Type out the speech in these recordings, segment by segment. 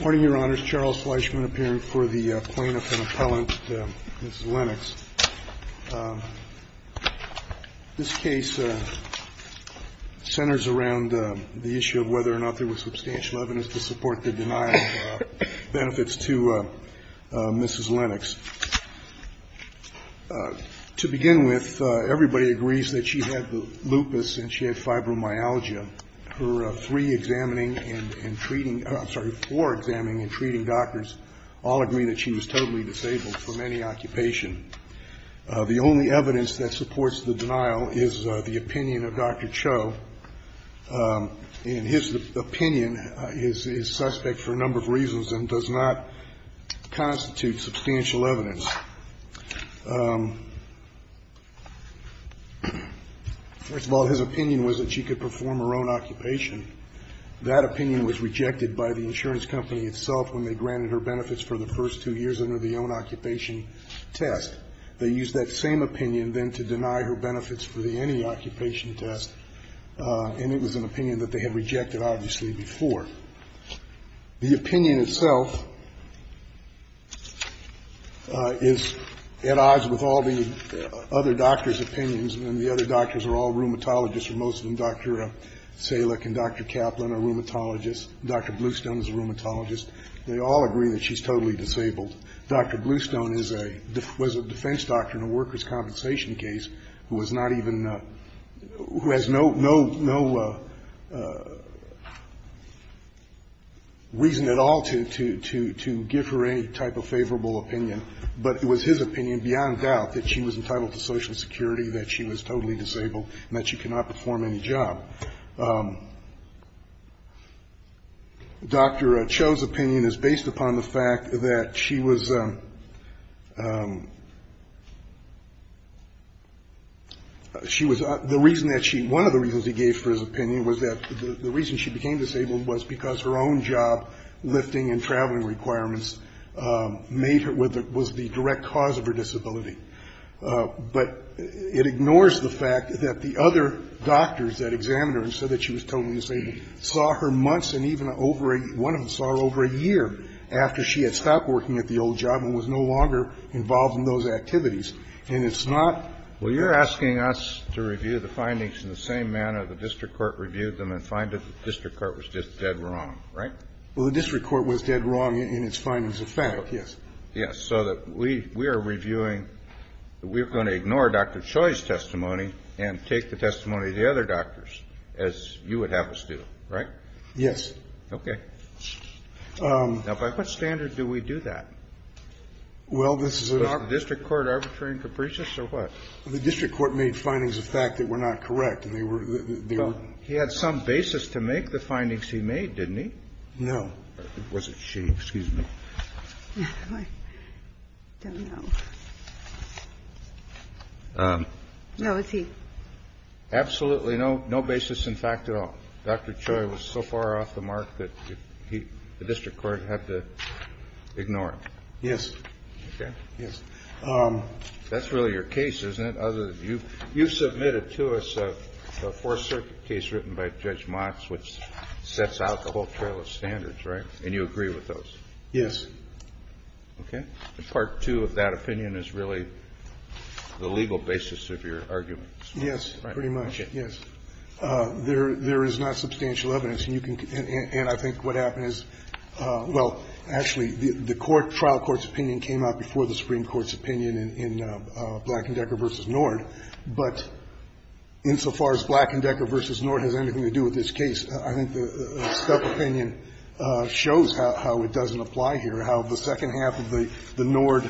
Morning, Your Honors. Charles Fleischman appearing for the plaintiff and appellant, Mrs. Lenox. This case centers around the issue of whether or not there was substantial evidence to support the denial of benefits to Mrs. Lenox. To begin with, everybody agrees that she had the lupus and she had fibromyalgia. Her three examining and treating, I'm sorry, four examining and treating doctors all agree that she was totally disabled from any occupation. The only evidence that supports the denial is the opinion of Dr. Cho. And his opinion is suspect for a number of reasons and does not constitute substantial evidence. First of all, his opinion was that she could perform her own occupation. That opinion was rejected by the insurance company itself when they granted her benefits for the first two years under the own-occupation test. They used that same opinion then to deny her benefits for the any-occupation test, and it was an opinion that they had rejected, obviously, before. The opinion itself is at odds with all the other doctors' opinions, and the other doctors are all rheumatologists, and most of them, Dr. Selick and Dr. Kaplan, are rheumatologists. Dr. Bluestone is a rheumatologist. They all agree that she's totally disabled. Dr. Bluestone is a, was a defense doctor in a workers' compensation case who was not even, who has no, no, no reason at all to, to, to give her any type of favorable opinion. But it was his opinion beyond doubt that she was entitled to Social Security, that she was totally disabled, and that she cannot perform any job. Dr. Cho's opinion is based upon the fact that she was, she was, the reason that she, one of the reasons he gave for his opinion was that the reason she became disabled was because her own job lifting and traveling requirements made her, was the direct cause of her disability. But it ignores the fact that the other doctors that examined her and said that she was totally disabled saw her months and even over a, one of them saw her over a year after she had stopped working at the old job and was no longer involved in those activities. And it's not. Kennedy. Well, you're asking us to review the findings in the same manner the district court reviewed them and find that the district court was just dead wrong, right? Well, the district court was dead wrong in its findings of fact, yes. Yes. So that we, we are reviewing, we're going to ignore Dr. Cho's testimony and take the testimony of the other doctors as you would have us do, right? Yes. Okay. Now, by what standard do we do that? Well, this is a. Was the district court arbitrary and capricious or what? The district court made findings of fact that were not correct and they were, they were. He had some basis to make the findings he made, didn't he? No. Was it she? Excuse me. I don't know. No, it's he. Absolutely. No, no basis in fact at all. Dr. Choi was so far off the mark that he, the district court had to ignore it. Yes. Okay. Yes. That's really your case, isn't it? Other than you, you've submitted to us a Fourth Circuit case written by Judge Motz, which sets out the whole trail of standards, right? And you agree with those. Yes. Okay. Part two of that opinion is really the legal basis of your argument. Yes, pretty much. Yes. There is not substantial evidence. And I think what happened is, well, actually, the trial court's opinion came out before the Supreme Court's opinion in Black and Decker v. Nord. But insofar as Black and Decker v. Nord has anything to do with this case, I think the step opinion shows how it doesn't apply here, how the second half of the Nord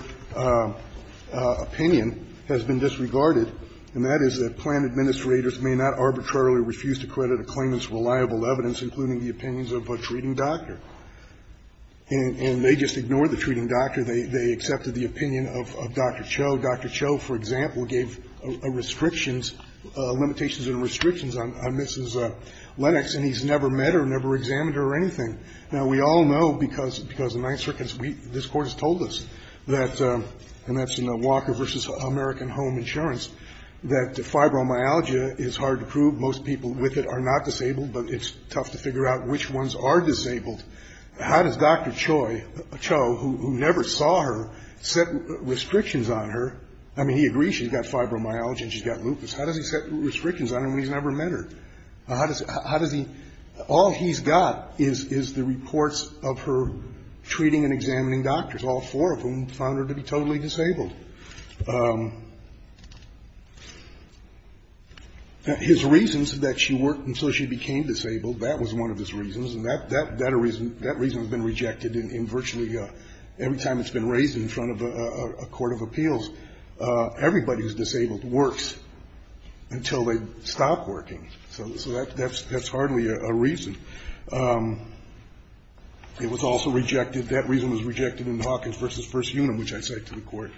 opinion has been disregarded, and that is that plan administrators may not arbitrarily refuse to credit a claimant's reliable evidence, including the opinions of a treating doctor, and they just ignored the treating doctor. They accepted the opinion of Dr. Choi. We know Dr. Choi, for example, gave restrictions, limitations and restrictions on Mrs. Lennox, and he's never met her, never examined her or anything. Now, we all know, because the Ninth Circuit, this Court has told us that, and that's in Walker v. American Home Insurance, that fibromyalgia is hard to prove. Most people with it are not disabled, but it's tough to figure out which ones are disabled. How does Dr. Choi, Cho, who never saw her, set restrictions on her? I mean, he agrees she's got fibromyalgia and she's got lupus. How does he set restrictions on her when he's never met her? How does he – all he's got is the reports of her treating and examining doctors, all four of whom found her to be totally disabled. His reasons that she worked until she became disabled, that was one of his reasons, and that reason has been rejected in virtually every time it's been raised in front of a court of appeals. Everybody who's disabled works until they stop working. So that's hardly a reason. It was also rejected, that reason was rejected in Hawkins v. First Unum, which I cite to the Court.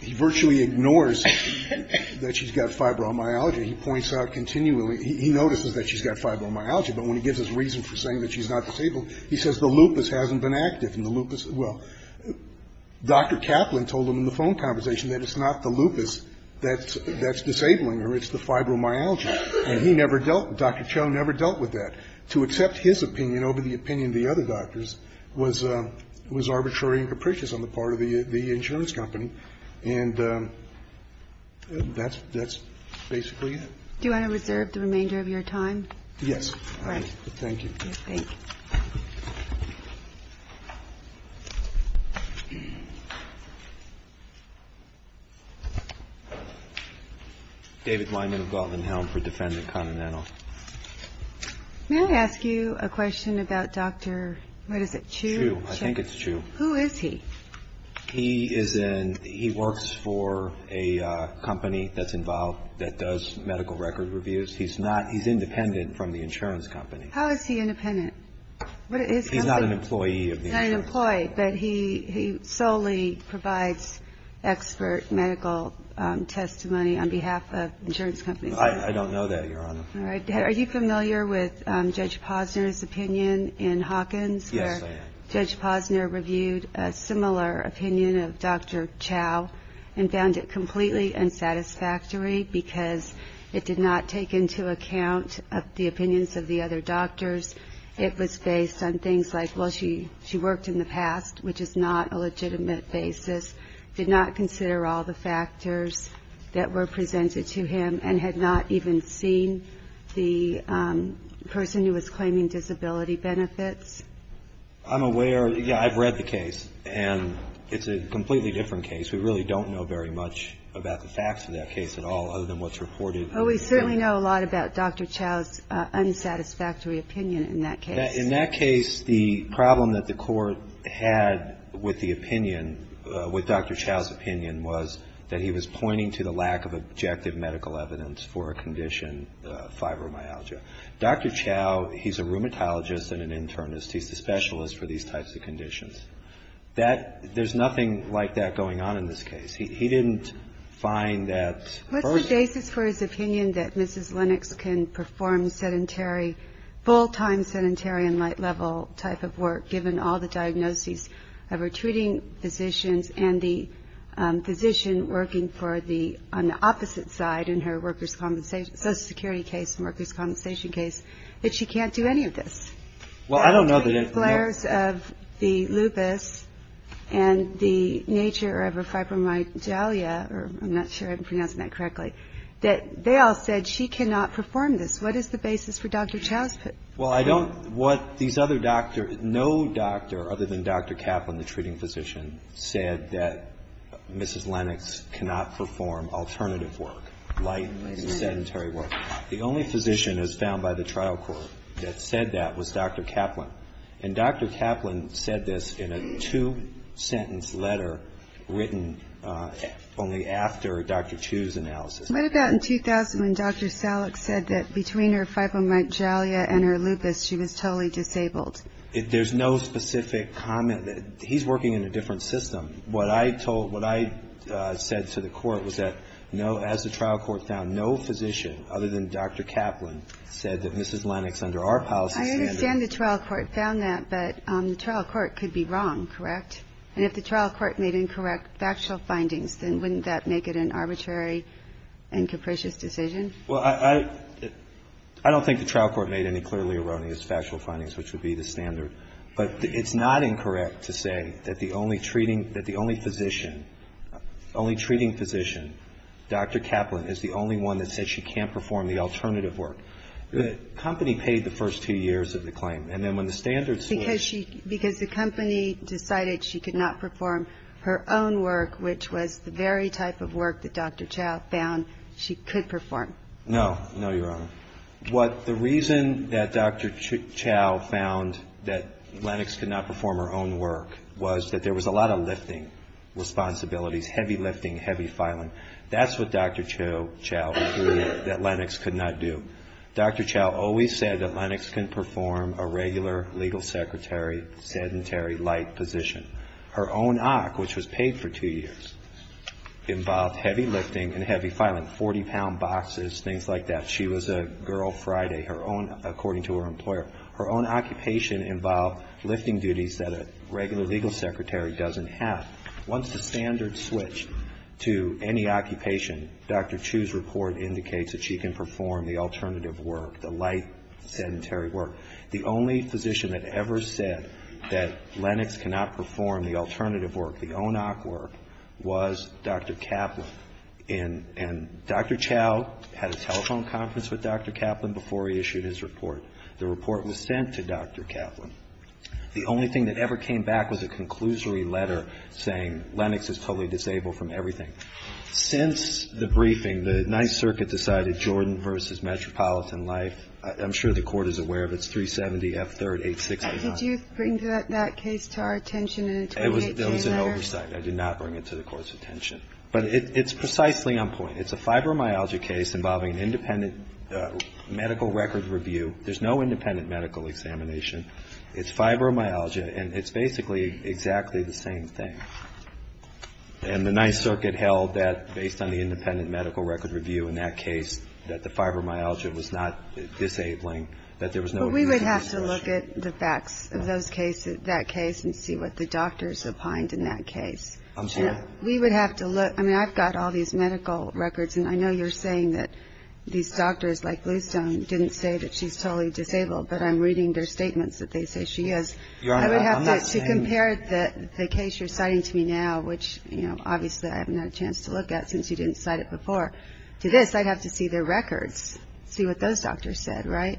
He virtually ignores that she's got fibromyalgia. He points out continually – he notices that she's got fibromyalgia, but when he gives his reason for saying that she's not disabled, he says the lupus hasn't been active and the lupus – well, Dr. Kaplan told him in the phone conversation that it's not the lupus that's disabling her, it's the fibromyalgia. And he never dealt – Dr. Choi never dealt with that. To accept his opinion over the opinion of the other doctors was arbitrary and capricious on the part of the insurance company. And that's basically it. Do you want to reserve the remainder of your time? Yes. All right. Thank you. Thank you. David Weinman of Galvin-Helm for Defendant Continental. May I ask you a question about Dr. – what is it, Chiu? Chiu. I think it's Chiu. Who is he? He is in – he works for a company that's involved – that does medical record reviews. He's not – he's independent from the insurance company. How is he independent? What is – He's not an employee of the insurance company. He's not an employee, but he solely provides expert medical testimony on behalf of insurance companies. I don't know that, Your Honor. All right. Are you familiar with Judge Posner's opinion in Hawkins? Yes, I am. Judge Posner reviewed a similar opinion of Dr. Chiu and found it completely unsatisfactory because it did not take into account the opinions of the other doctors. It was based on things like, well, she worked in the past, which is not a legitimate basis, did not consider all the factors that were presented to him, and had not even seen the person who was claiming disability benefits. I'm aware – yeah, I've read the case, and it's a completely different case. We really don't know very much about the facts of that case at all other than what's reported. Well, we certainly know a lot about Dr. Chiu's unsatisfactory opinion in that case. In that case, the problem that the court had with the opinion – with Dr. Chiu's opinion was that he was pointing to the lack of objective medical evidence for a condition, fibromyalgia. Dr. Chiu, he's a rheumatologist and an internist. He's the specialist for these types of conditions. That – there's nothing like that going on in this case. He didn't find that – What's the basis for his opinion that Mrs. Lennox can perform sedentary, full-time sedentary and light-level type of work given all the diagnoses of her treating physicians and the physician working for the – on the opposite side in her workers' compensation – social security case and workers' compensation case that she can't do any of this? Well, I don't know that it – The flares of the lupus and the nature of her fibromyalgia, or I'm not sure I'm pronouncing that correctly, that they all said she cannot perform this. What is the basis for Dr. Chiu's opinion? Well, I don't – what these other doctors – no doctor other than Dr. Kaplan, the treating physician, said that Mrs. Lennox cannot perform alternative work, light sedentary work. The only physician as found by the trial court that said that was Dr. Kaplan. And Dr. Kaplan said this in a two-sentence letter written only after Dr. Chiu's analysis. What about in 2000 when Dr. Salek said that between her fibromyalgia and her lupus she was totally disabled? There's no specific comment. He's working in a different system. What I told – what I said to the Court was that no – as the trial court found no physician other than Dr. Kaplan said that Mrs. Lennox under our policy standard I understand the trial court found that, but the trial court could be wrong, correct? And if the trial court made incorrect factual findings, then wouldn't that make it an arbitrary and capricious decision? Well, I – I don't think the trial court made any clearly erroneous factual findings, which would be the standard. But it's not incorrect to say that the only treating – that the only physician – only treating physician, Dr. Kaplan, is the only one that said she can't perform the alternative work. The company paid the first two years of the claim. And then when the standards were – Because she – because the company decided she could not perform her own work, which was the very type of work that Dr. Chiu found she could perform. No. No, Your Honor. What – the reason that Dr. Chiu found that Lennox could not perform her own work was that there was a lot of lifting responsibilities, heavy lifting, heavy filing. That's what Dr. Chiu – Chiu – that Lennox could not do. Dr. Chiu always said that Lennox can perform a regular legal secretary, sedentary, light position. Her own OC, which was paid for two years, involved heavy lifting and heavy filing, 40-pound boxes, things like that. She was a girl Friday, her own – according to her employer. Her own occupation involved lifting duties that a regular legal secretary doesn't have. Once the standards switch to any occupation, Dr. Chiu's report indicates that she can perform the alternative work, the light sedentary work. The only physician that ever said that Lennox cannot perform the alternative work, the own OC work, was Dr. Kaplan. And Dr. Chiu had a telephone conference with Dr. Kaplan before he issued his report. The report was sent to Dr. Kaplan. The only thing that ever came back was a conclusory letter saying Lennox is totally disabled from everything. Since the briefing, the Ninth Circuit decided Jordan v. Metropolitan Life. I'm sure the Court is aware of it. It's 370F3-8689. Did you bring that case to our attention in a 28-day letter? That was an oversight. I did not bring it to the Court's attention. But it's precisely on point. It's a fibromyalgia case involving an independent medical record review. There's no independent medical examination. It's fibromyalgia. And it's basically exactly the same thing. And the Ninth Circuit held that based on the independent medical record review in that case, that the fibromyalgia was not disabling, that there was no abuse. But we would have to look at the facts of those cases, that case, and see what the doctors opined in that case. I'm sorry? We would have to look. I mean, I've got all these medical records. And I know you're saying that these doctors like Bluestone didn't say that she's totally disabled, but I'm reading their statements that they say she is. Your Honor, I'm not saying that. I would have to compare the case you're citing to me now, which, you know, obviously I haven't had a chance to look at since you didn't cite it before, to this. I'd have to see their records, see what those doctors said, right?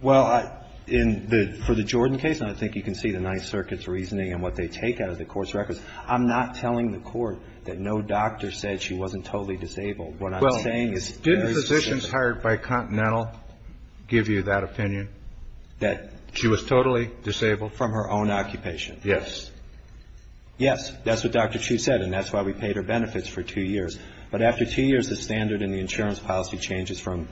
Well, in the – for the Jordan case, and I think you can see the Ninth Circuit's reasoning and what they take out of the Court's records, I'm not telling the Court that no doctor said she wasn't totally disabled. What I'm saying is very specific. Well, didn't physicians hired by Continental give you that opinion? That she was totally disabled? From her own occupation. Yes. Yes. That's what Dr. Chu said, and that's why we paid her benefits for two years. But after two years, the standard in the insurance policy changes from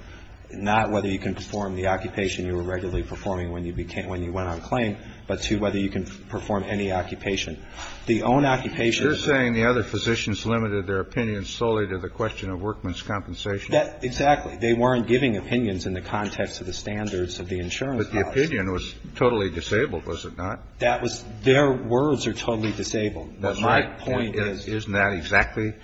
not whether you can perform the occupation you were regularly performing when you went on claim, but to whether you can perform any occupation. The own occupation of the – You're saying the other physicians limited their opinions solely to the question of workman's compensation? That – exactly. They weren't giving opinions in the context of the standards of the insurance policy. But the opinion was totally disabled, was it not? That was – their words are totally disabled. That's right. But my point is – Isn't that exactly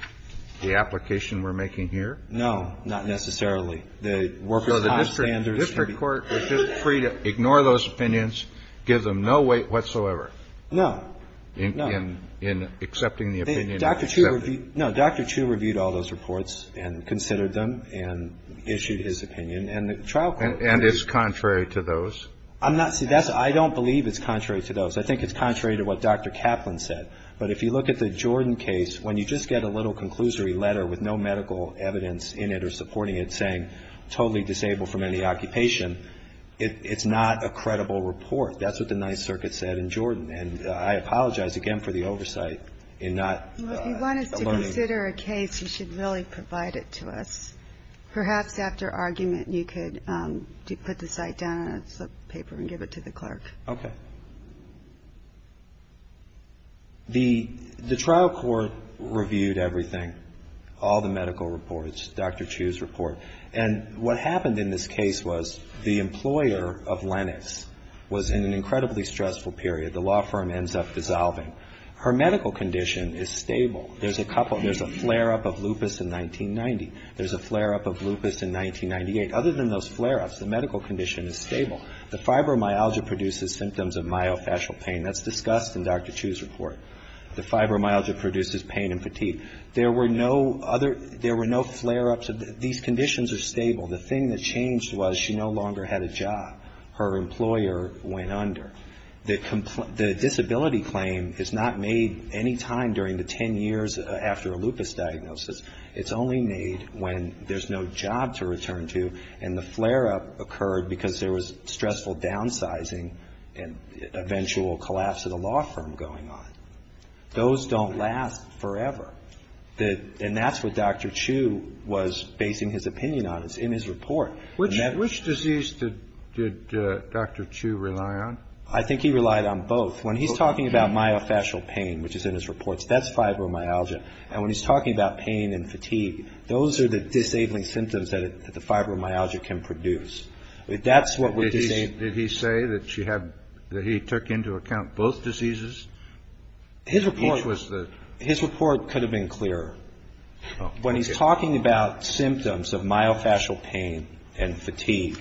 the application we're making here? No, not necessarily. The workers' time standards – So the district court was just free to ignore those opinions, give them no weight whatsoever? No. No. In accepting the opinion? Dr. Chu reviewed – no, Dr. Chu reviewed all those reports and considered them and issued his opinion. And the trial court – And it's contrary to those? I'm not – see, that's – I don't believe it's contrary to those. I think it's contrary to what Dr. Kaplan said. But if you look at the Jordan case, when you just get a little conclusory letter with no medical evidence in it or supporting it saying totally disabled from any occupation, it's not a credible report. That's what the Ninth Circuit said in Jordan. And I apologize, again, for the oversight in not – Well, if you want us to consider a case, you should really provide it to us. Perhaps after argument, you could put the site down on a slip of paper and give it to the clerk. Okay. The trial court reviewed everything, all the medical reports, Dr. Chu's report. And what happened in this case was the employer of Lennox was in an incredibly stressful period. The law firm ends up dissolving. Her medical condition is stable. There's a couple – there's a flare-up of lupus in 1990. There's a flare-up of lupus in 1998. Other than those flare-ups, the medical condition is stable. The fibromyalgia produces symptoms of myofascial pain. That's discussed in Dr. Chu's report. The fibromyalgia produces pain and fatigue. There were no other – there were no flare-ups. These conditions are stable. The thing that changed was she no longer had a job. Her employer went under. The disability claim is not made any time during the ten years after a lupus diagnosis. It's only made when there's no job to return to and the flare-up occurred because there was stressful downsizing and eventual collapse of the law firm going on. Those don't last forever. And that's what Dr. Chu was basing his opinion on. It's in his report. Which disease did Dr. Chu rely on? I think he relied on both. When he's talking about myofascial pain, which is in his reports, that's fibromyalgia. And when he's talking about pain and fatigue, those are the disabling symptoms that the fibromyalgia can produce. That's what would – Did he say that she had – that he took into account both diseases? His report – Which was the – His report could have been clearer. When he's talking about symptoms of myofascial pain and fatigue,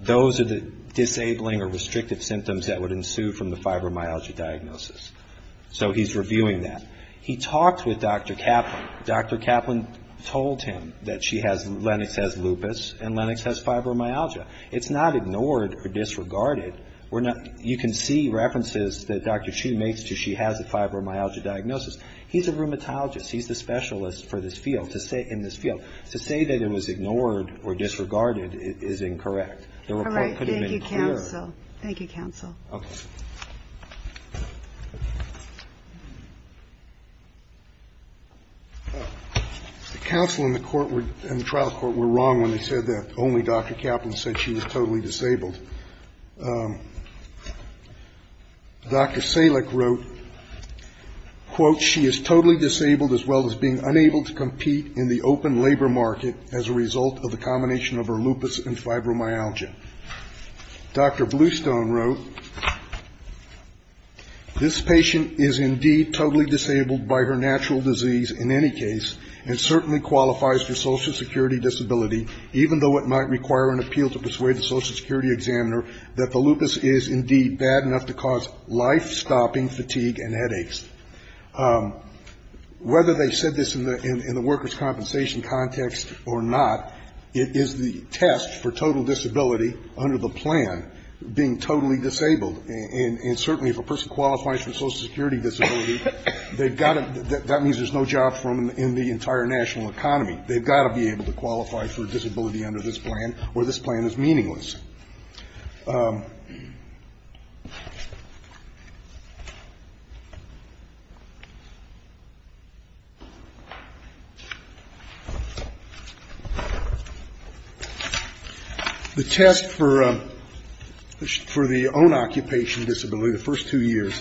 those are the disabling or restrictive symptoms that would ensue from the fibromyalgia diagnosis. So he's reviewing that. He talks with Dr. Kaplan. Dr. Kaplan told him that she has – Lennox has lupus and Lennox has fibromyalgia. It's not ignored or disregarded. We're not – you can see references that Dr. Chu makes to she has a fibromyalgia diagnosis. He's a rheumatologist. He's the specialist for this field, in this field. To say that it was ignored or disregarded is incorrect. The report could have been clearer. All right. Thank you, counsel. Thank you, counsel. Okay. The counsel in the court were – in the trial court were wrong when they said that only Dr. Kaplan said she was totally disabled. Dr. Salek wrote, quote, she is totally disabled as well as being unable to compete in the open labor market as a result of a combination of her lupus and fibromyalgia. Dr. Bluestone wrote, this patient is indeed totally disabled by her natural disease in any case and certainly qualifies for Social Security disability, even though it might require an appeal to persuade the Social Security examiner that the lupus is indeed bad enough to cause life-stopping fatigue and headaches. Whether they said this in the workers' compensation context or not, it is the test for total disability under the plan, being totally disabled. And certainly if a person qualifies for Social Security disability, they've got to – that means there's no job for them in the entire national economy. They've got to be able to qualify for disability under this plan or this plan is meaningless. The test for the own occupation disability, the first two years,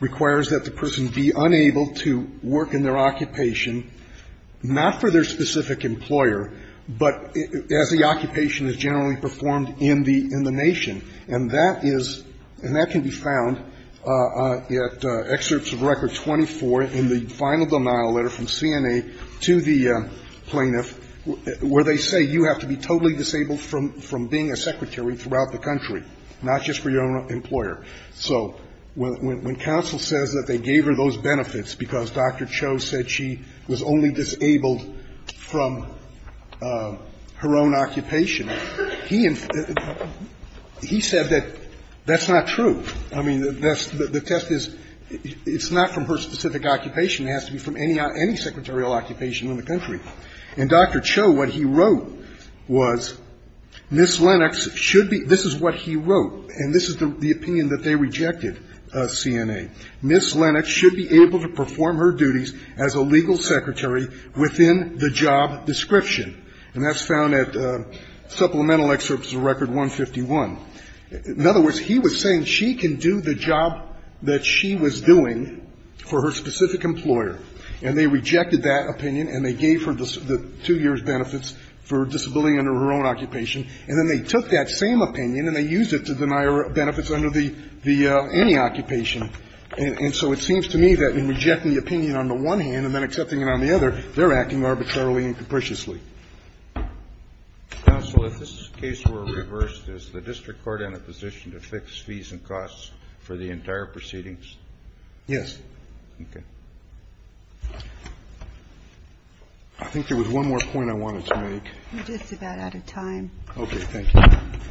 requires that the person be unable to work in their occupation not for their specific employer, but as the occupation is generally performed in the nation. And that is – and that can be found at excerpts of Record 24 in the final denial letter from CNA to the plaintiff where they say you have to be totally disabled from being a secretary throughout the country, not just for your own employer. So when counsel says that they gave her those benefits because Dr. Cho said that she was only disabled from her own occupation, he said that that's not true. I mean, the test is it's not from her specific occupation. It has to be from any secretarial occupation in the country. And Dr. Cho, what he wrote was, Ms. Lennox should be – this is what he wrote, and this is the opinion that they rejected, CNA. Ms. Lennox should be able to perform her duties as a legal secretary within the job description. And that's found at supplemental excerpts of Record 151. In other words, he was saying she can do the job that she was doing for her specific employer, and they rejected that opinion and they gave her the two years' benefits for disability under her own occupation, and then they took that same opinion and they used it to deny her benefits under the – any occupation. And so it seems to me that in rejecting the opinion on the one hand and then accepting it on the other, they're acting arbitrarily and capriciously. Kennedy. Counsel, if this case were reversed, is the district court in a position to fix fees and costs for the entire proceedings? Yes. Okay. I think there was one more point I wanted to make. You're just about out of time. Okay. Thank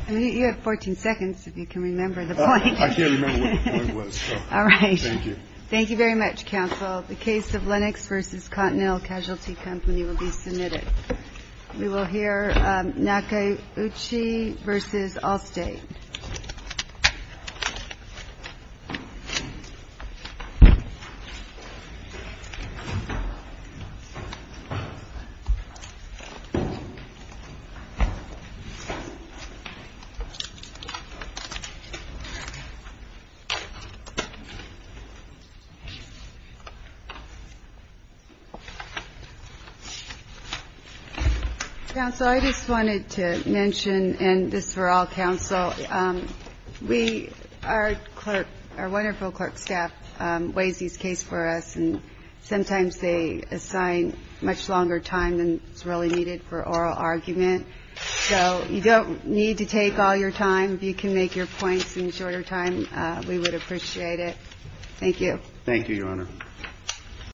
you. You have 14 seconds if you can remember the point. I can't remember what it was. All right. Thank you. Thank you very much, counsel. The case of Lennox v. Continental Casualty Company will be submitted. We will hear Nakauchi v. Allstate. Counsel, I just wanted to mention, and this is for all counsel, we – our clerk – our wonderful clerk staff weighs these cases for us, and sometimes they assign much longer time than is really needed for oral argument. So you don't need to take all your time. If you can make your points in shorter time, we would appreciate it. Thank you. Thank you, Your Honor.